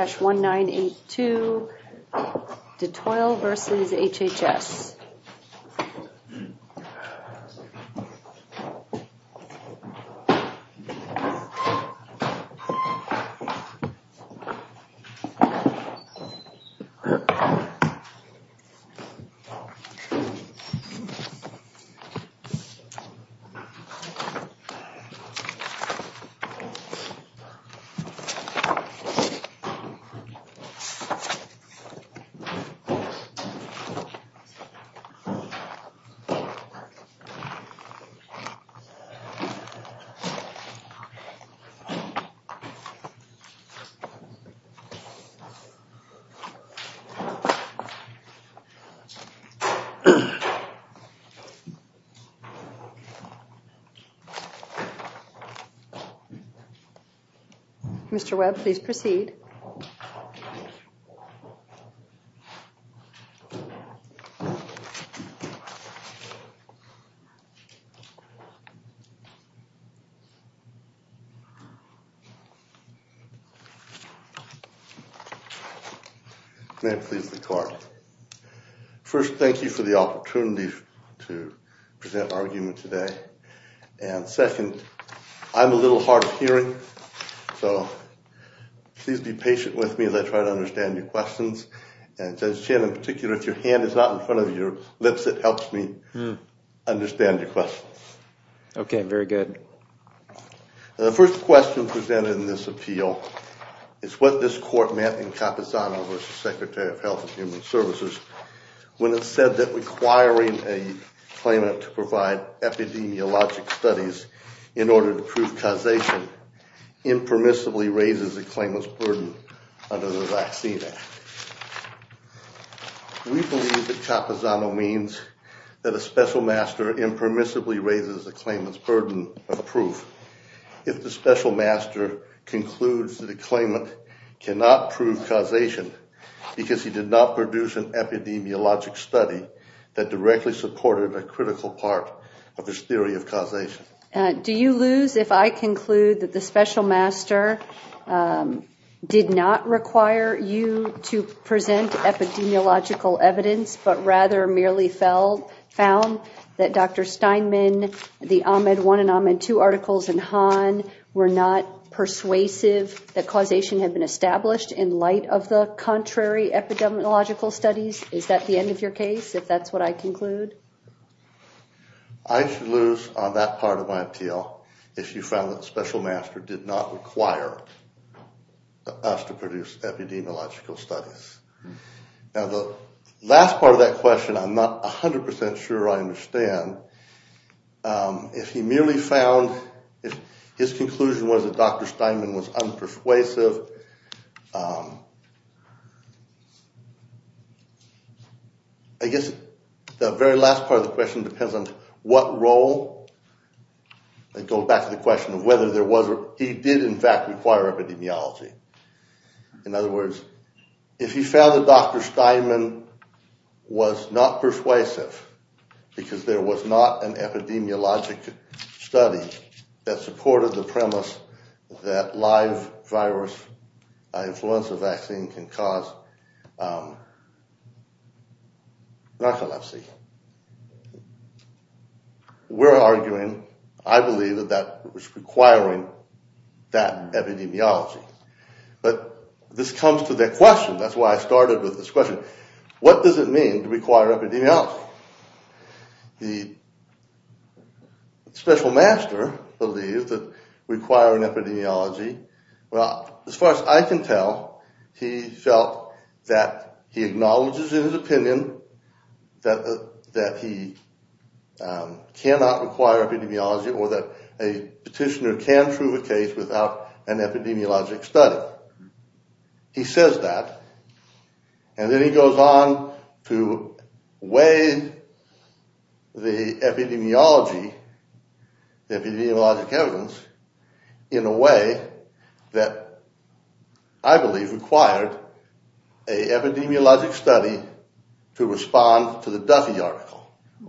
1-982 Detoil versus HHS. Mr. Webb, please proceed. Mr. Webb, please proceed. Mr. Webb, please proceed. Mr. Webb, please proceed. Mr. Webb, please proceed. Mr. Webb, please proceed. Mr. Webb, please proceed. Mr. Webb, please proceed. Mr. Webb, please proceed. Mr. Webb, please proceed. Mr. Webb, please proceed. Mr. Webb, please proceed.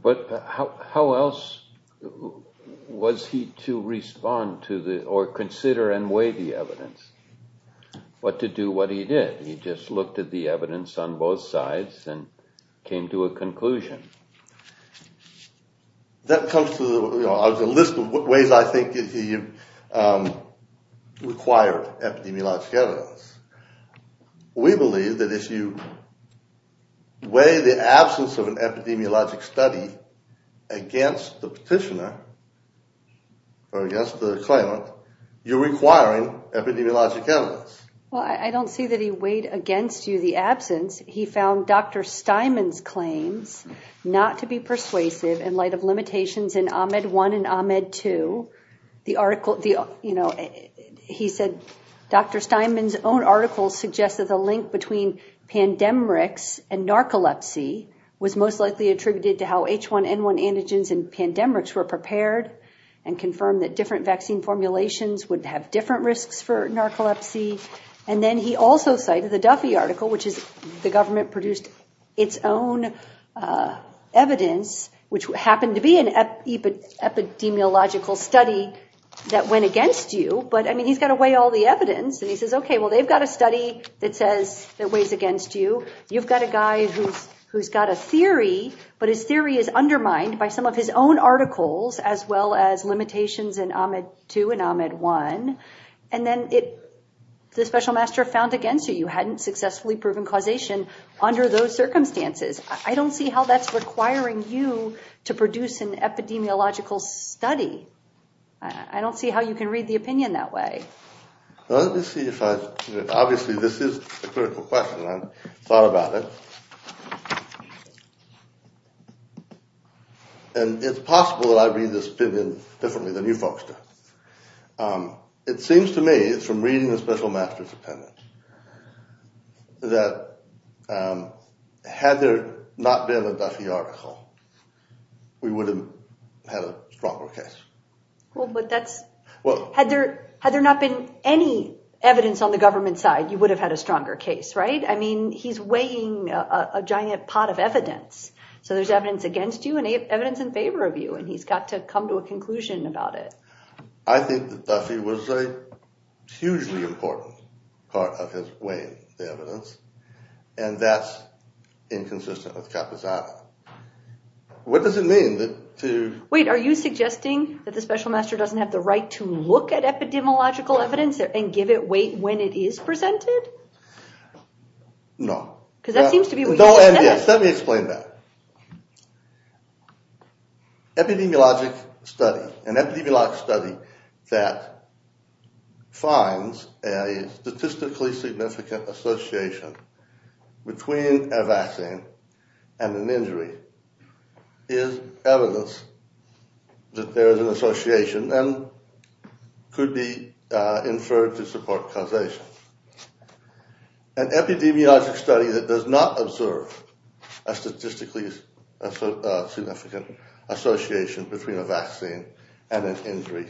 But how else was he to respond to or consider and weigh the evidence? But to do what he did, he just looked at the evidence on both sides and came to a conclusion. That comes to the list of ways I think he required epidemiologic evidence. We believe that if you weigh the absence of an epidemiologic study against the petitioner or against the claimant, you're requiring epidemiologic evidence. Well, I don't see that he weighed against you the absence. He found Dr. Steinman's claims not to be persuasive in light of limitations in Ahmed 1 and Ahmed 2. He said Dr. Steinman's own article suggested the link between pandemrix and narcolepsy was most likely attributed to how H1N1 antigens and pandemrix were prepared and confirmed that different vaccine formulations would have different risks for narcolepsy. And then he also cited the Duffy article, which is the government produced its own evidence, which happened to be an epidemiological study that went against you. But I mean, he's got to weigh all the evidence. And he says, OK, well, they've got a study that says that weighs against you. You've got a guy who's got a theory, but his theory is undermined by some of his own articles, as well as limitations in Ahmed 2 and Ahmed 1. And then the special master found against you. You hadn't successfully proven causation under those circumstances. I don't see how that's requiring you to produce an epidemiological study. I don't see how you can read the opinion that way. Let me see if I can. Obviously, this is a critical question. I thought about it. And it's possible that I read this opinion differently than you folks do. It seems to me it's from reading the special master's opinion that had there not been a Duffy article, we would have had a stronger case. Well, but that's what had there had there not been any evidence on the government side, you would have had a stronger case. Right. I mean, he's weighing a giant pot of evidence. So there's evidence against you and evidence in favor of you, and he's got to come to a conclusion about it. I think that Duffy was a hugely important part of his weighing the evidence. And that's inconsistent with Capizana. What does it mean that to wait? Are you suggesting that the special master doesn't have the right to look at epidemiological evidence and give it weight when it is presented? No. Because that seems to be what you said. Let me explain that. Epidemiologic study, an epidemiologic study that finds a statistically significant association between a vaccine and an injury, is evidence that there is an association and could be inferred to support causation. An epidemiologic study that does not observe a statistically significant association between a vaccine and an injury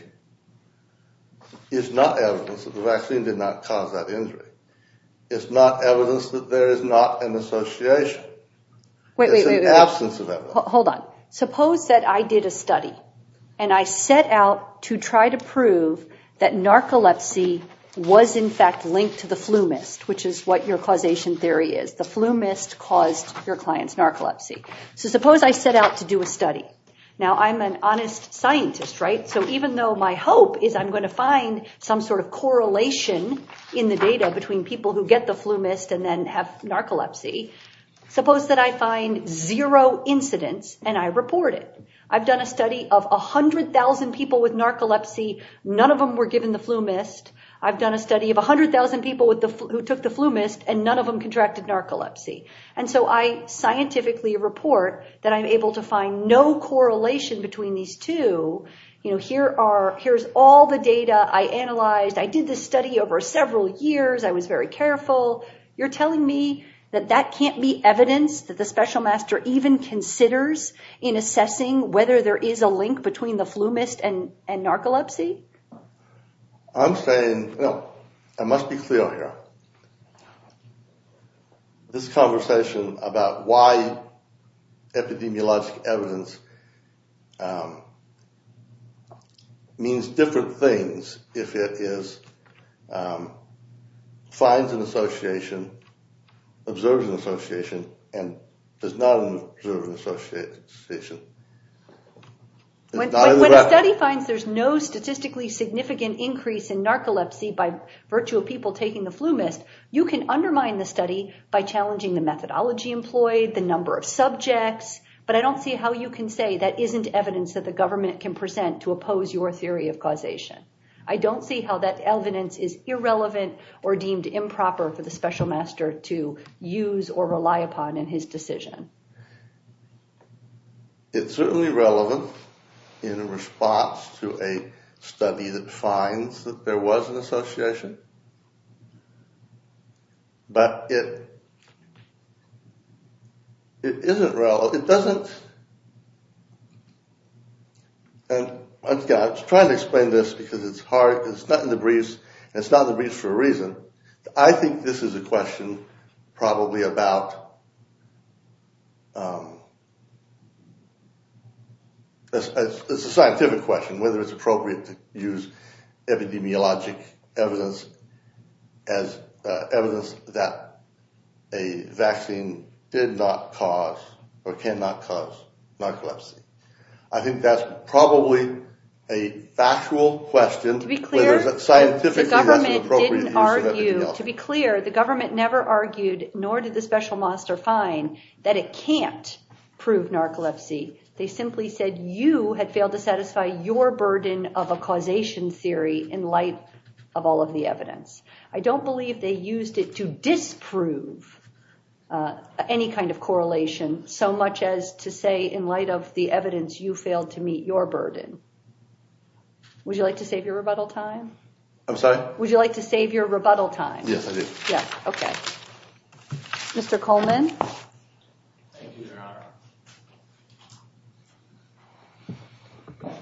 is not evidence that the vaccine did not cause that injury. It's not evidence that there is not an association. It's an absence of evidence. Hold on. Suppose that I did a study and I set out to try to prove that narcolepsy was in fact linked to the flu mist, which is what your causation theory is. The flu mist caused your client's narcolepsy. So suppose I set out to do a study. Now, I'm an honest scientist, right? So even though my hope is I'm going to find some sort of correlation in the data between people who get the flu mist and then have narcolepsy, suppose that I find zero incidents and I report it. I've done a study of 100,000 people with narcolepsy. None of them were given the flu mist. I've done a study of 100,000 people who took the flu mist and none of them contracted narcolepsy. And so I scientifically report that I'm able to find no correlation between these two. Here's all the data I analyzed. I did this study over several years. I was very careful. You're telling me that that can't be evidence that the special master even considers in assessing whether there is a link between the flu mist and narcolepsy? I'm saying, you know, I must be clear here. This conversation about why epidemiologic evidence means different things if it finds an association, observes an association, and does not observe an association. When a study finds there's no statistically significant increase in narcolepsy by virtue of people taking the flu mist, you can undermine the study by challenging the methodology employed, the number of subjects. But I don't see how you can say that isn't evidence that the government can present to oppose your theory of causation. I don't see how that evidence is irrelevant or deemed improper for the special master to use or rely upon in his decision. It's certainly relevant in response to a study that finds that there was an association. But it isn't relevant. It doesn't. And I'm trying to explain this because it's hard. It's not in the briefs. It's not in the briefs for a reason. I think this is a question probably about, it's a scientific question whether it's appropriate to use epidemiologic evidence as evidence that a vaccine did not cause or cannot cause narcolepsy. I think that's probably a factual question. To be clear, the government never argued, nor did the special master find, that it can't prove narcolepsy. They simply said you had failed to satisfy your burden of a causation theory in light of all of the evidence. I don't believe they used it to disprove any kind of correlation so much as to say in light of the evidence you failed to meet your burden. Would you like to save your rebuttal time? I'm sorry? Would you like to save your rebuttal time? Yes, I do. Okay. Mr. Coleman? Thank you, Your Honor.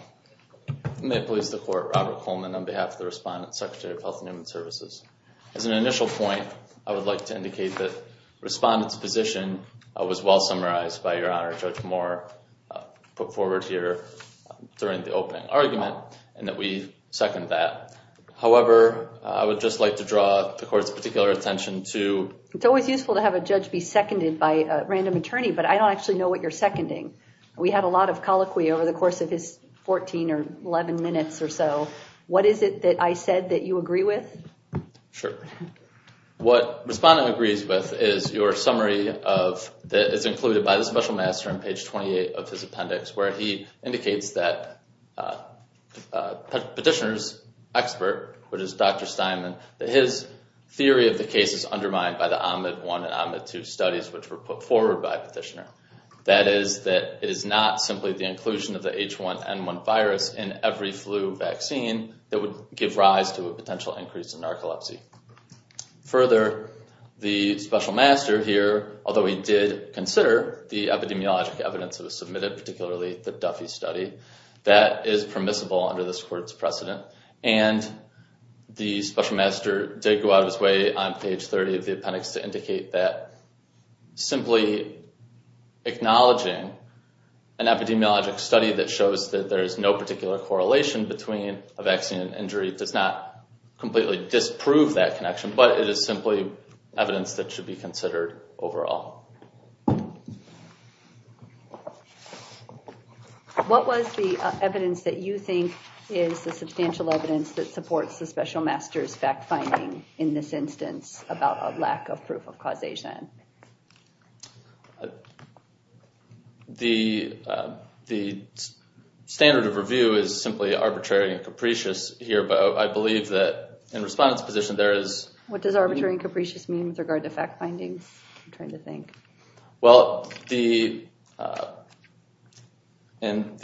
May it please the Court, Robert Coleman on behalf of the Respondent, Secretary of Health and Human Services. As an initial point, I would like to indicate that Respondent's position was well summarized by Your Honor Judge Moore put forward here during the opening argument and that we second that. However, I would just like to draw the Court's particular attention to It's always useful to have a judge be seconded by a random attorney, but I don't actually know what you're seconding. We had a lot of colloquy over the course of his 14 or 11 minutes or so. What is it that I said that you agree with? Sure. What Respondent agrees with is your summary that is included by the Special Master on page 28 of his appendix where he indicates that Petitioner's expert, which is Dr. Steinman, that his theory of the case is undermined by the OMID 1 and OMID 2 studies which were put forward by Petitioner. That is that it is not simply the inclusion of the H1N1 virus in every flu vaccine that would give rise to a potential increase in narcolepsy. Further, the Special Master here, although he did consider the epidemiologic evidence that was submitted, particularly the Duffy study, that is permissible under this Court's precedent. And the Special Master did go out of his way on page 30 of the appendix to indicate that simply acknowledging an epidemiologic study that shows that there is no particular correlation between a vaccine and injury does not completely disprove that connection, but it is simply evidence that should be considered overall. What was the evidence that you think is the substantial evidence that supports the Special Master's fact-finding in this instance about a lack of proof of causation? The standard of review is simply arbitrary and capricious here, but I believe that in Respondent's position there is... What does arbitrary and capricious mean with regard to fact-finding, I'm trying to think? Well, in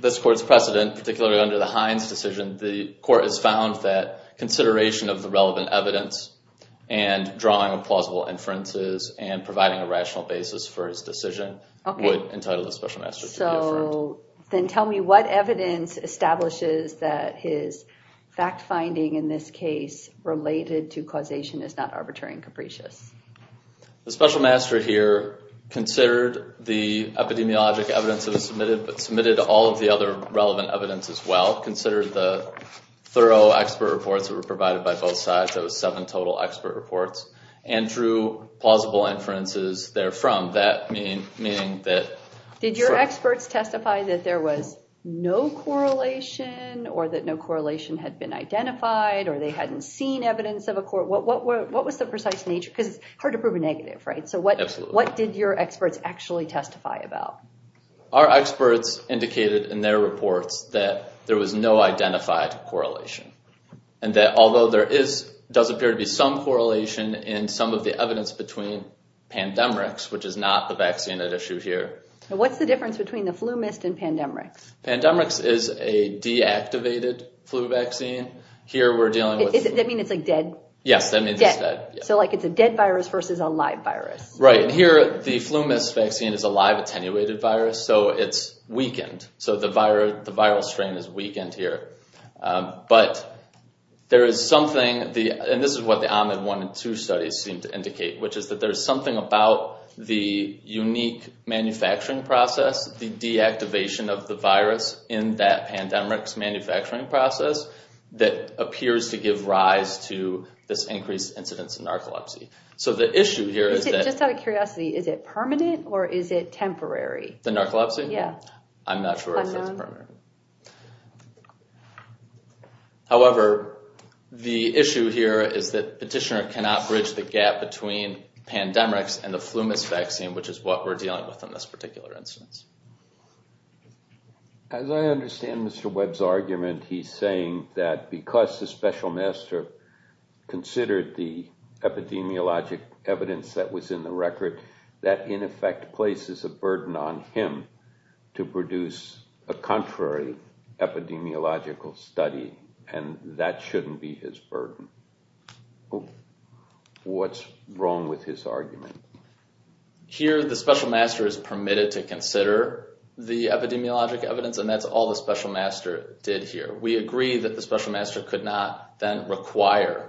this Court's precedent, particularly under the Hines decision, the Court has found that consideration of the relevant evidence and drawing a plausible inferences and providing a rational basis for his decision would entitle the Special Master to be affirmed. So then tell me what evidence establishes that his fact-finding in this case related to causation is not arbitrary and capricious? The Special Master here considered the epidemiologic evidence that was submitted, but submitted all of the other relevant evidence as well, considered the thorough expert reports that were provided by both sides, that was seven total expert reports, and drew plausible inferences therefrom. Did your experts testify that there was no correlation, or that no correlation had been identified, or they hadn't seen evidence of a correlation? What was the precise nature? Because it's hard to prove a negative, right? Absolutely. So what did your experts actually testify about? Our experts indicated in their reports that there was no identified correlation, and that although there is, does appear to be some correlation in some of the evidence between Pandemrix, which is not the vaccine at issue here. And what's the difference between the FluMist and Pandemrix? Pandemrix is a deactivated flu vaccine. Here we're dealing with... Does that mean it's like dead? Yes, that means it's dead. So like it's a dead virus versus a live virus. Right, and here the FluMist vaccine is a live attenuated virus, so it's weakened. So the viral strain is weakened here. But there is something, and this is what the OMAD 1 and 2 studies seem to indicate, which is that there's something about the unique manufacturing process, the deactivation of the virus in that Pandemrix manufacturing process, that appears to give rise to this increased incidence of narcolepsy. So the issue here is that... Just out of curiosity, is it permanent or is it temporary? The narcolepsy? Yeah. I'm not sure if it's permanent. However, the issue here is that Petitioner cannot bridge the gap between Pandemrix and the FluMist vaccine, which is what we're dealing with in this particular instance. As I understand Mr. Webb's argument, he's saying that because the Special Master considered the epidemiologic evidence that was in the record, that in effect places a burden on him to produce a contrary epidemiological study, and that shouldn't be his burden. What's wrong with his argument? Here, the Special Master is permitted to consider the epidemiologic evidence, and that's all the Special Master did here. We agree that the Special Master could not then require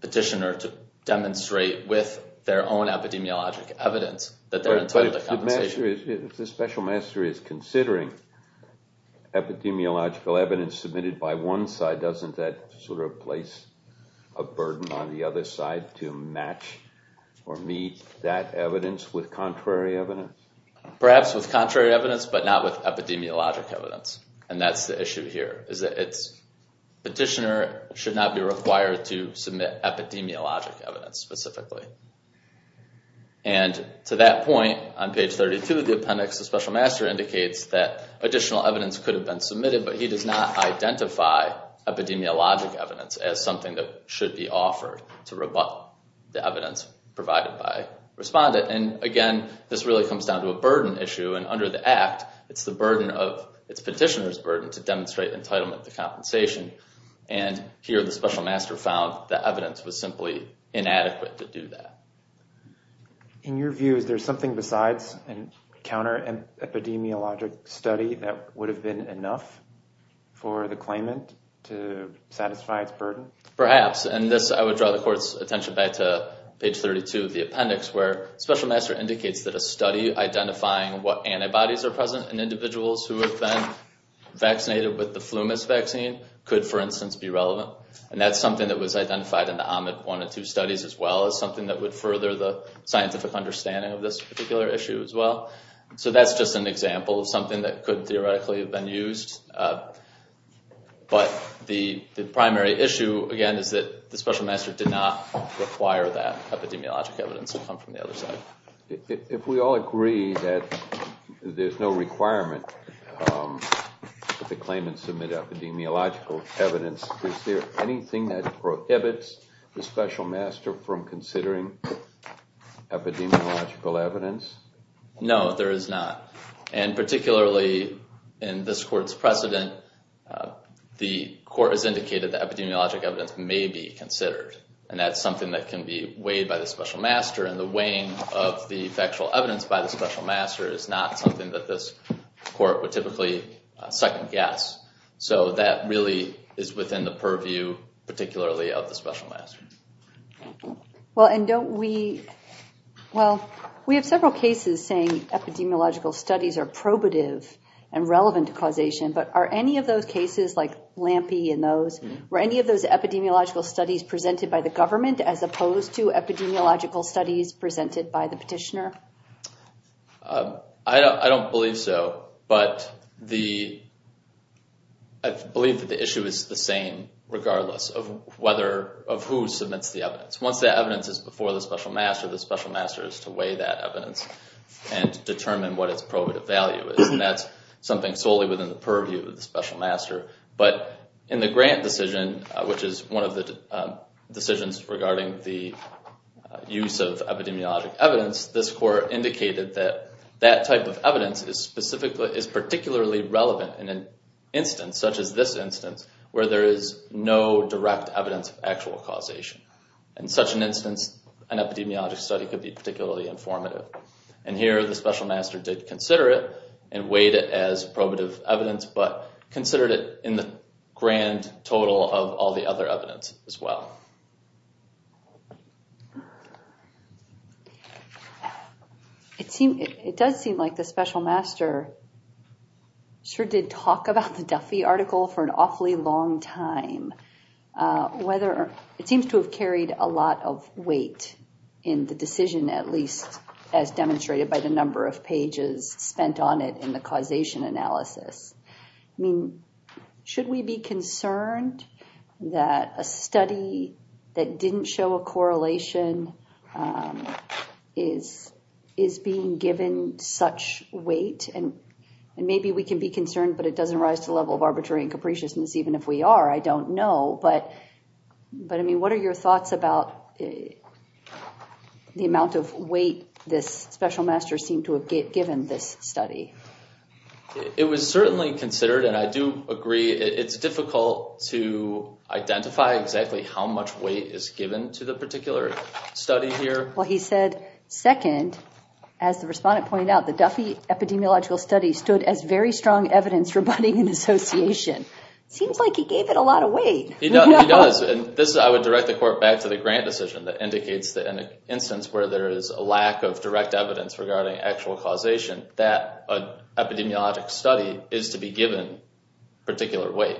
Petitioner to demonstrate with their own epidemiologic evidence that they're entitled to compensation. If the Special Master is considering epidemiological evidence submitted by one side, doesn't that sort of place a burden on the other side to match or meet that evidence with contrary evidence? Perhaps with contrary evidence, but not with epidemiologic evidence. And that's the issue here. Petitioner should not be required to submit epidemiologic evidence specifically. And to that point, on page 32 of the appendix, the Special Master indicates that additional evidence could have been submitted, but he does not identify epidemiologic evidence as something that should be offered to rebut the evidence provided by a respondent. And again, this really comes down to a burden issue, and under the Act, it's the petitioner's burden to demonstrate entitlement to compensation. And here, the Special Master found that evidence was simply inadequate to do that. In your view, is there something besides a counterepidemiologic study that would have been enough for the claimant to satisfy its burden? Perhaps. And this, I would draw the Court's attention back to page 32 of the appendix, where Special Master indicates that a study identifying what antibodies are present in individuals who have been vaccinated with the Flumis vaccine could, for instance, be relevant. And that's something that was identified in the Ahmed 1 and 2 studies as well as something that would further the scientific understanding of this particular issue as well. So that's just an example of something that could theoretically have been used. But the primary issue, again, is that the Special Master did not require that epidemiologic evidence to come from the other side. If we all agree that there's no requirement that the claimant submit epidemiological evidence, is there anything that prohibits the Special Master from considering epidemiological evidence? No, there is not. And particularly in this Court's precedent, the Court has indicated that epidemiologic evidence may be considered. And that's something that can be weighed by the Special Master. And the weighing of the factual evidence by the Special Master is not something that this Court would typically second-guess. So that really is within the purview, particularly, of the Special Master. Well, we have several cases saying epidemiological studies are probative and relevant to causation. But are any of those cases, like Lampe and those, were any of those epidemiological studies presented by the government as opposed to epidemiological studies presented by the petitioner? I don't believe so. But I believe that the issue is the same regardless of who submits the evidence. Once the evidence is before the Special Master, the Special Master is to weigh that evidence and determine what its probative value is. And that's something solely within the purview of the Special Master. But in the Grant decision, which is one of the decisions regarding the use of epidemiologic evidence, this Court indicated that that type of evidence is particularly relevant in an instance such as this instance, where there is no direct evidence of actual causation. In such an instance, an epidemiologic study could be particularly informative. And here, the Special Master did consider it and weighed it as probative evidence, but considered it in the grand total of all the other evidence as well. It does seem like the Special Master sure did talk about the Duffy article for an awfully long time. It seems to have carried a lot of weight in the decision, at least as demonstrated by the number of pages spent on it in the causation analysis. Should we be concerned that a study that didn't show a correlation is being given such weight? And maybe we can be concerned, but it doesn't rise to the level of arbitrary and capriciousness, even if we are. I don't know. But what are your thoughts about the amount of weight this Special Master seemed to have given this study? It was certainly considered, and I do agree, it's difficult to identify exactly how much weight is given to the particular study here. Well, he said, second, as the respondent pointed out, the Duffy epidemiological study stood as very strong evidence rebutting an association. Seems like he gave it a lot of weight. He does. I would direct the court back to the grant decision that indicates that in an instance where there is a lack of direct evidence regarding actual causation, that epidemiologic study is to be given particular weight.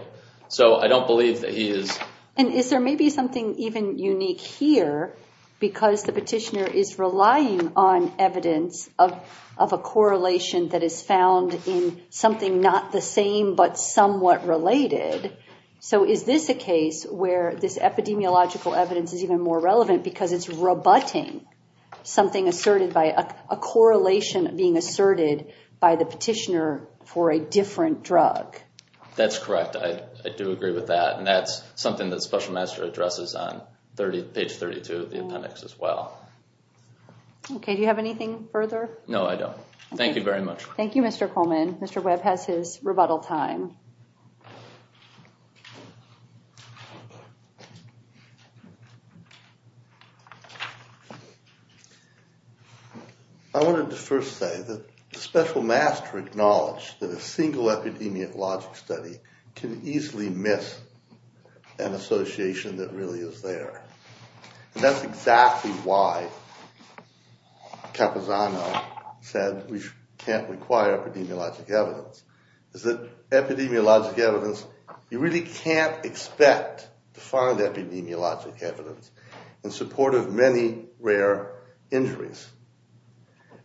So I don't believe that he is... And is there maybe something even unique here? Because the petitioner is relying on evidence of a correlation that is found in something not the same, but somewhat related. So is this a case where this epidemiological evidence is even more relevant because it's rebutting something asserted by a correlation being asserted by the petitioner for a different drug? That's correct. I do agree with that. And that's something that Special Master addresses on page 32 of the appendix as well. Okay. Do you have anything further? No, I don't. Thank you very much. Thank you, Mr. Coleman. Mr. Webb has his rebuttal time. I wanted to first say that Special Master acknowledged that a single epidemiologic study can easily miss an association that really is there. And that's exactly why Capozano said we can't require epidemiologic evidence, is that epidemiologic evidence, you really can't expect to find epidemiologic evidence in support of many rare injuries.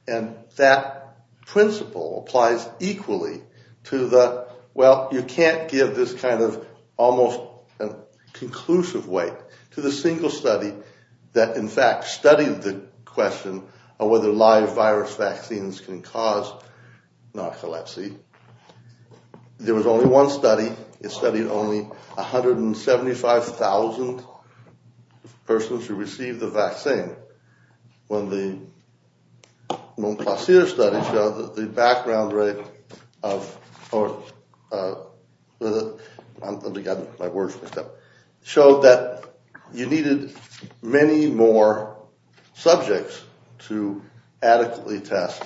And that principle applies equally to the, well, you can't give this kind of almost conclusive weight to the single study that in fact studied the question of whether live virus vaccines can cause narcolepsy. There was only one study. It studied only 175,000 persons who received the vaccine. When the Montplaisir study showed that the background rate of, oh, let me get my words mixed up, showed that you needed many more subjects to adequately test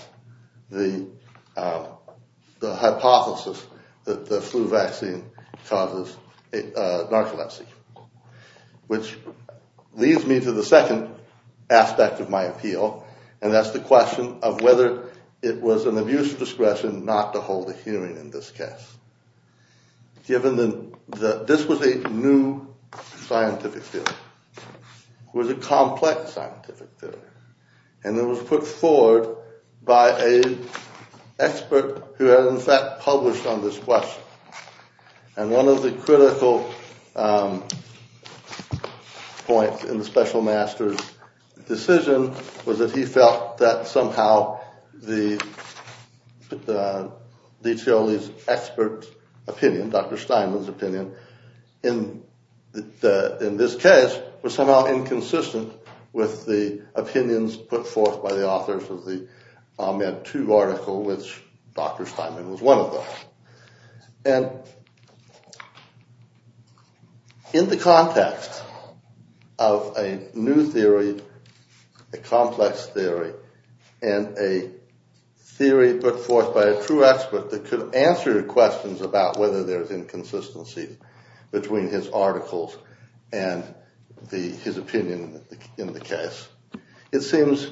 the hypothesis that the flu vaccine causes narcolepsy. Which leads me to the second aspect of my appeal, and that's the question of whether it was an abuse of discretion not to hold a hearing in this case. This was a new scientific theory. It was a complex scientific theory, and it was put forward by an expert who had in fact published on this question. And one of the critical points in the special master's decision was that he felt that somehow the, DiCioli's expert opinion, Dr. Steinman's opinion, in this case, was somehow inconsistent with the opinions put forth by the authors of the Ahmed II article, which Dr. Steinman was one of them. And in the context of a new theory, a complex theory, and a theory put forth by a true expert that could answer questions about whether there's inconsistency between his articles and his opinion in the case, it seems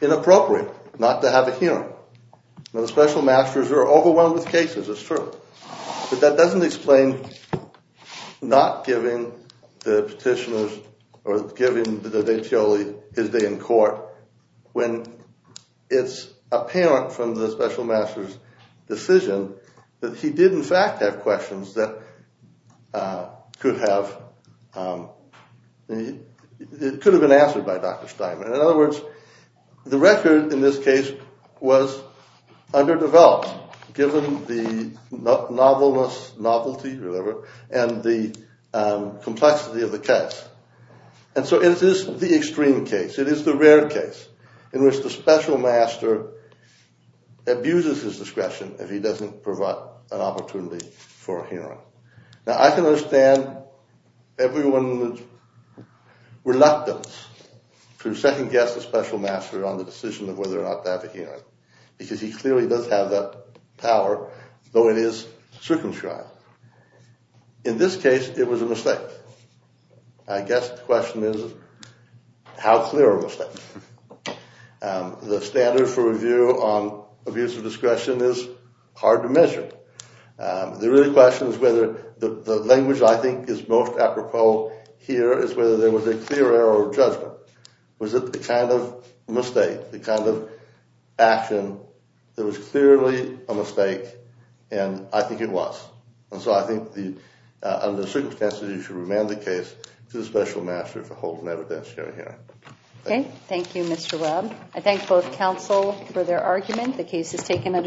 inappropriate not to have a hearing. Now, the special masters are overwhelmed with cases, it's true, but that doesn't explain not giving the petitioners or giving DiCioli his day in court when it's apparent from the special master's decision that he did in fact have questions that could have been answered by Dr. Steinman. In other words, the record in this case was underdeveloped, given the novelness, novelty, whatever, and the complexity of the case. And so it is the extreme case, it is the rare case, in which the special master abuses his discretion if he doesn't provide an opportunity for a hearing. Now, I can understand everyone's reluctance to second-guess the special master on the decision of whether or not to have a hearing, because he clearly does have that power, though it is circumscribed. In this case, it was a mistake. I guess the question is, how clear a mistake? The standard for review on abuse of discretion is hard to measure. The real question is whether the language I think is most apropos here is whether there was a clear error of judgment. Was it the kind of mistake, the kind of action that was clearly a mistake, and I think it was. And so I think under the circumstances, you should remand the case to the special master for holding evidence during the hearing. Okay, thank you, Mr. Webb. I thank both counsel for their argument. The case is taken under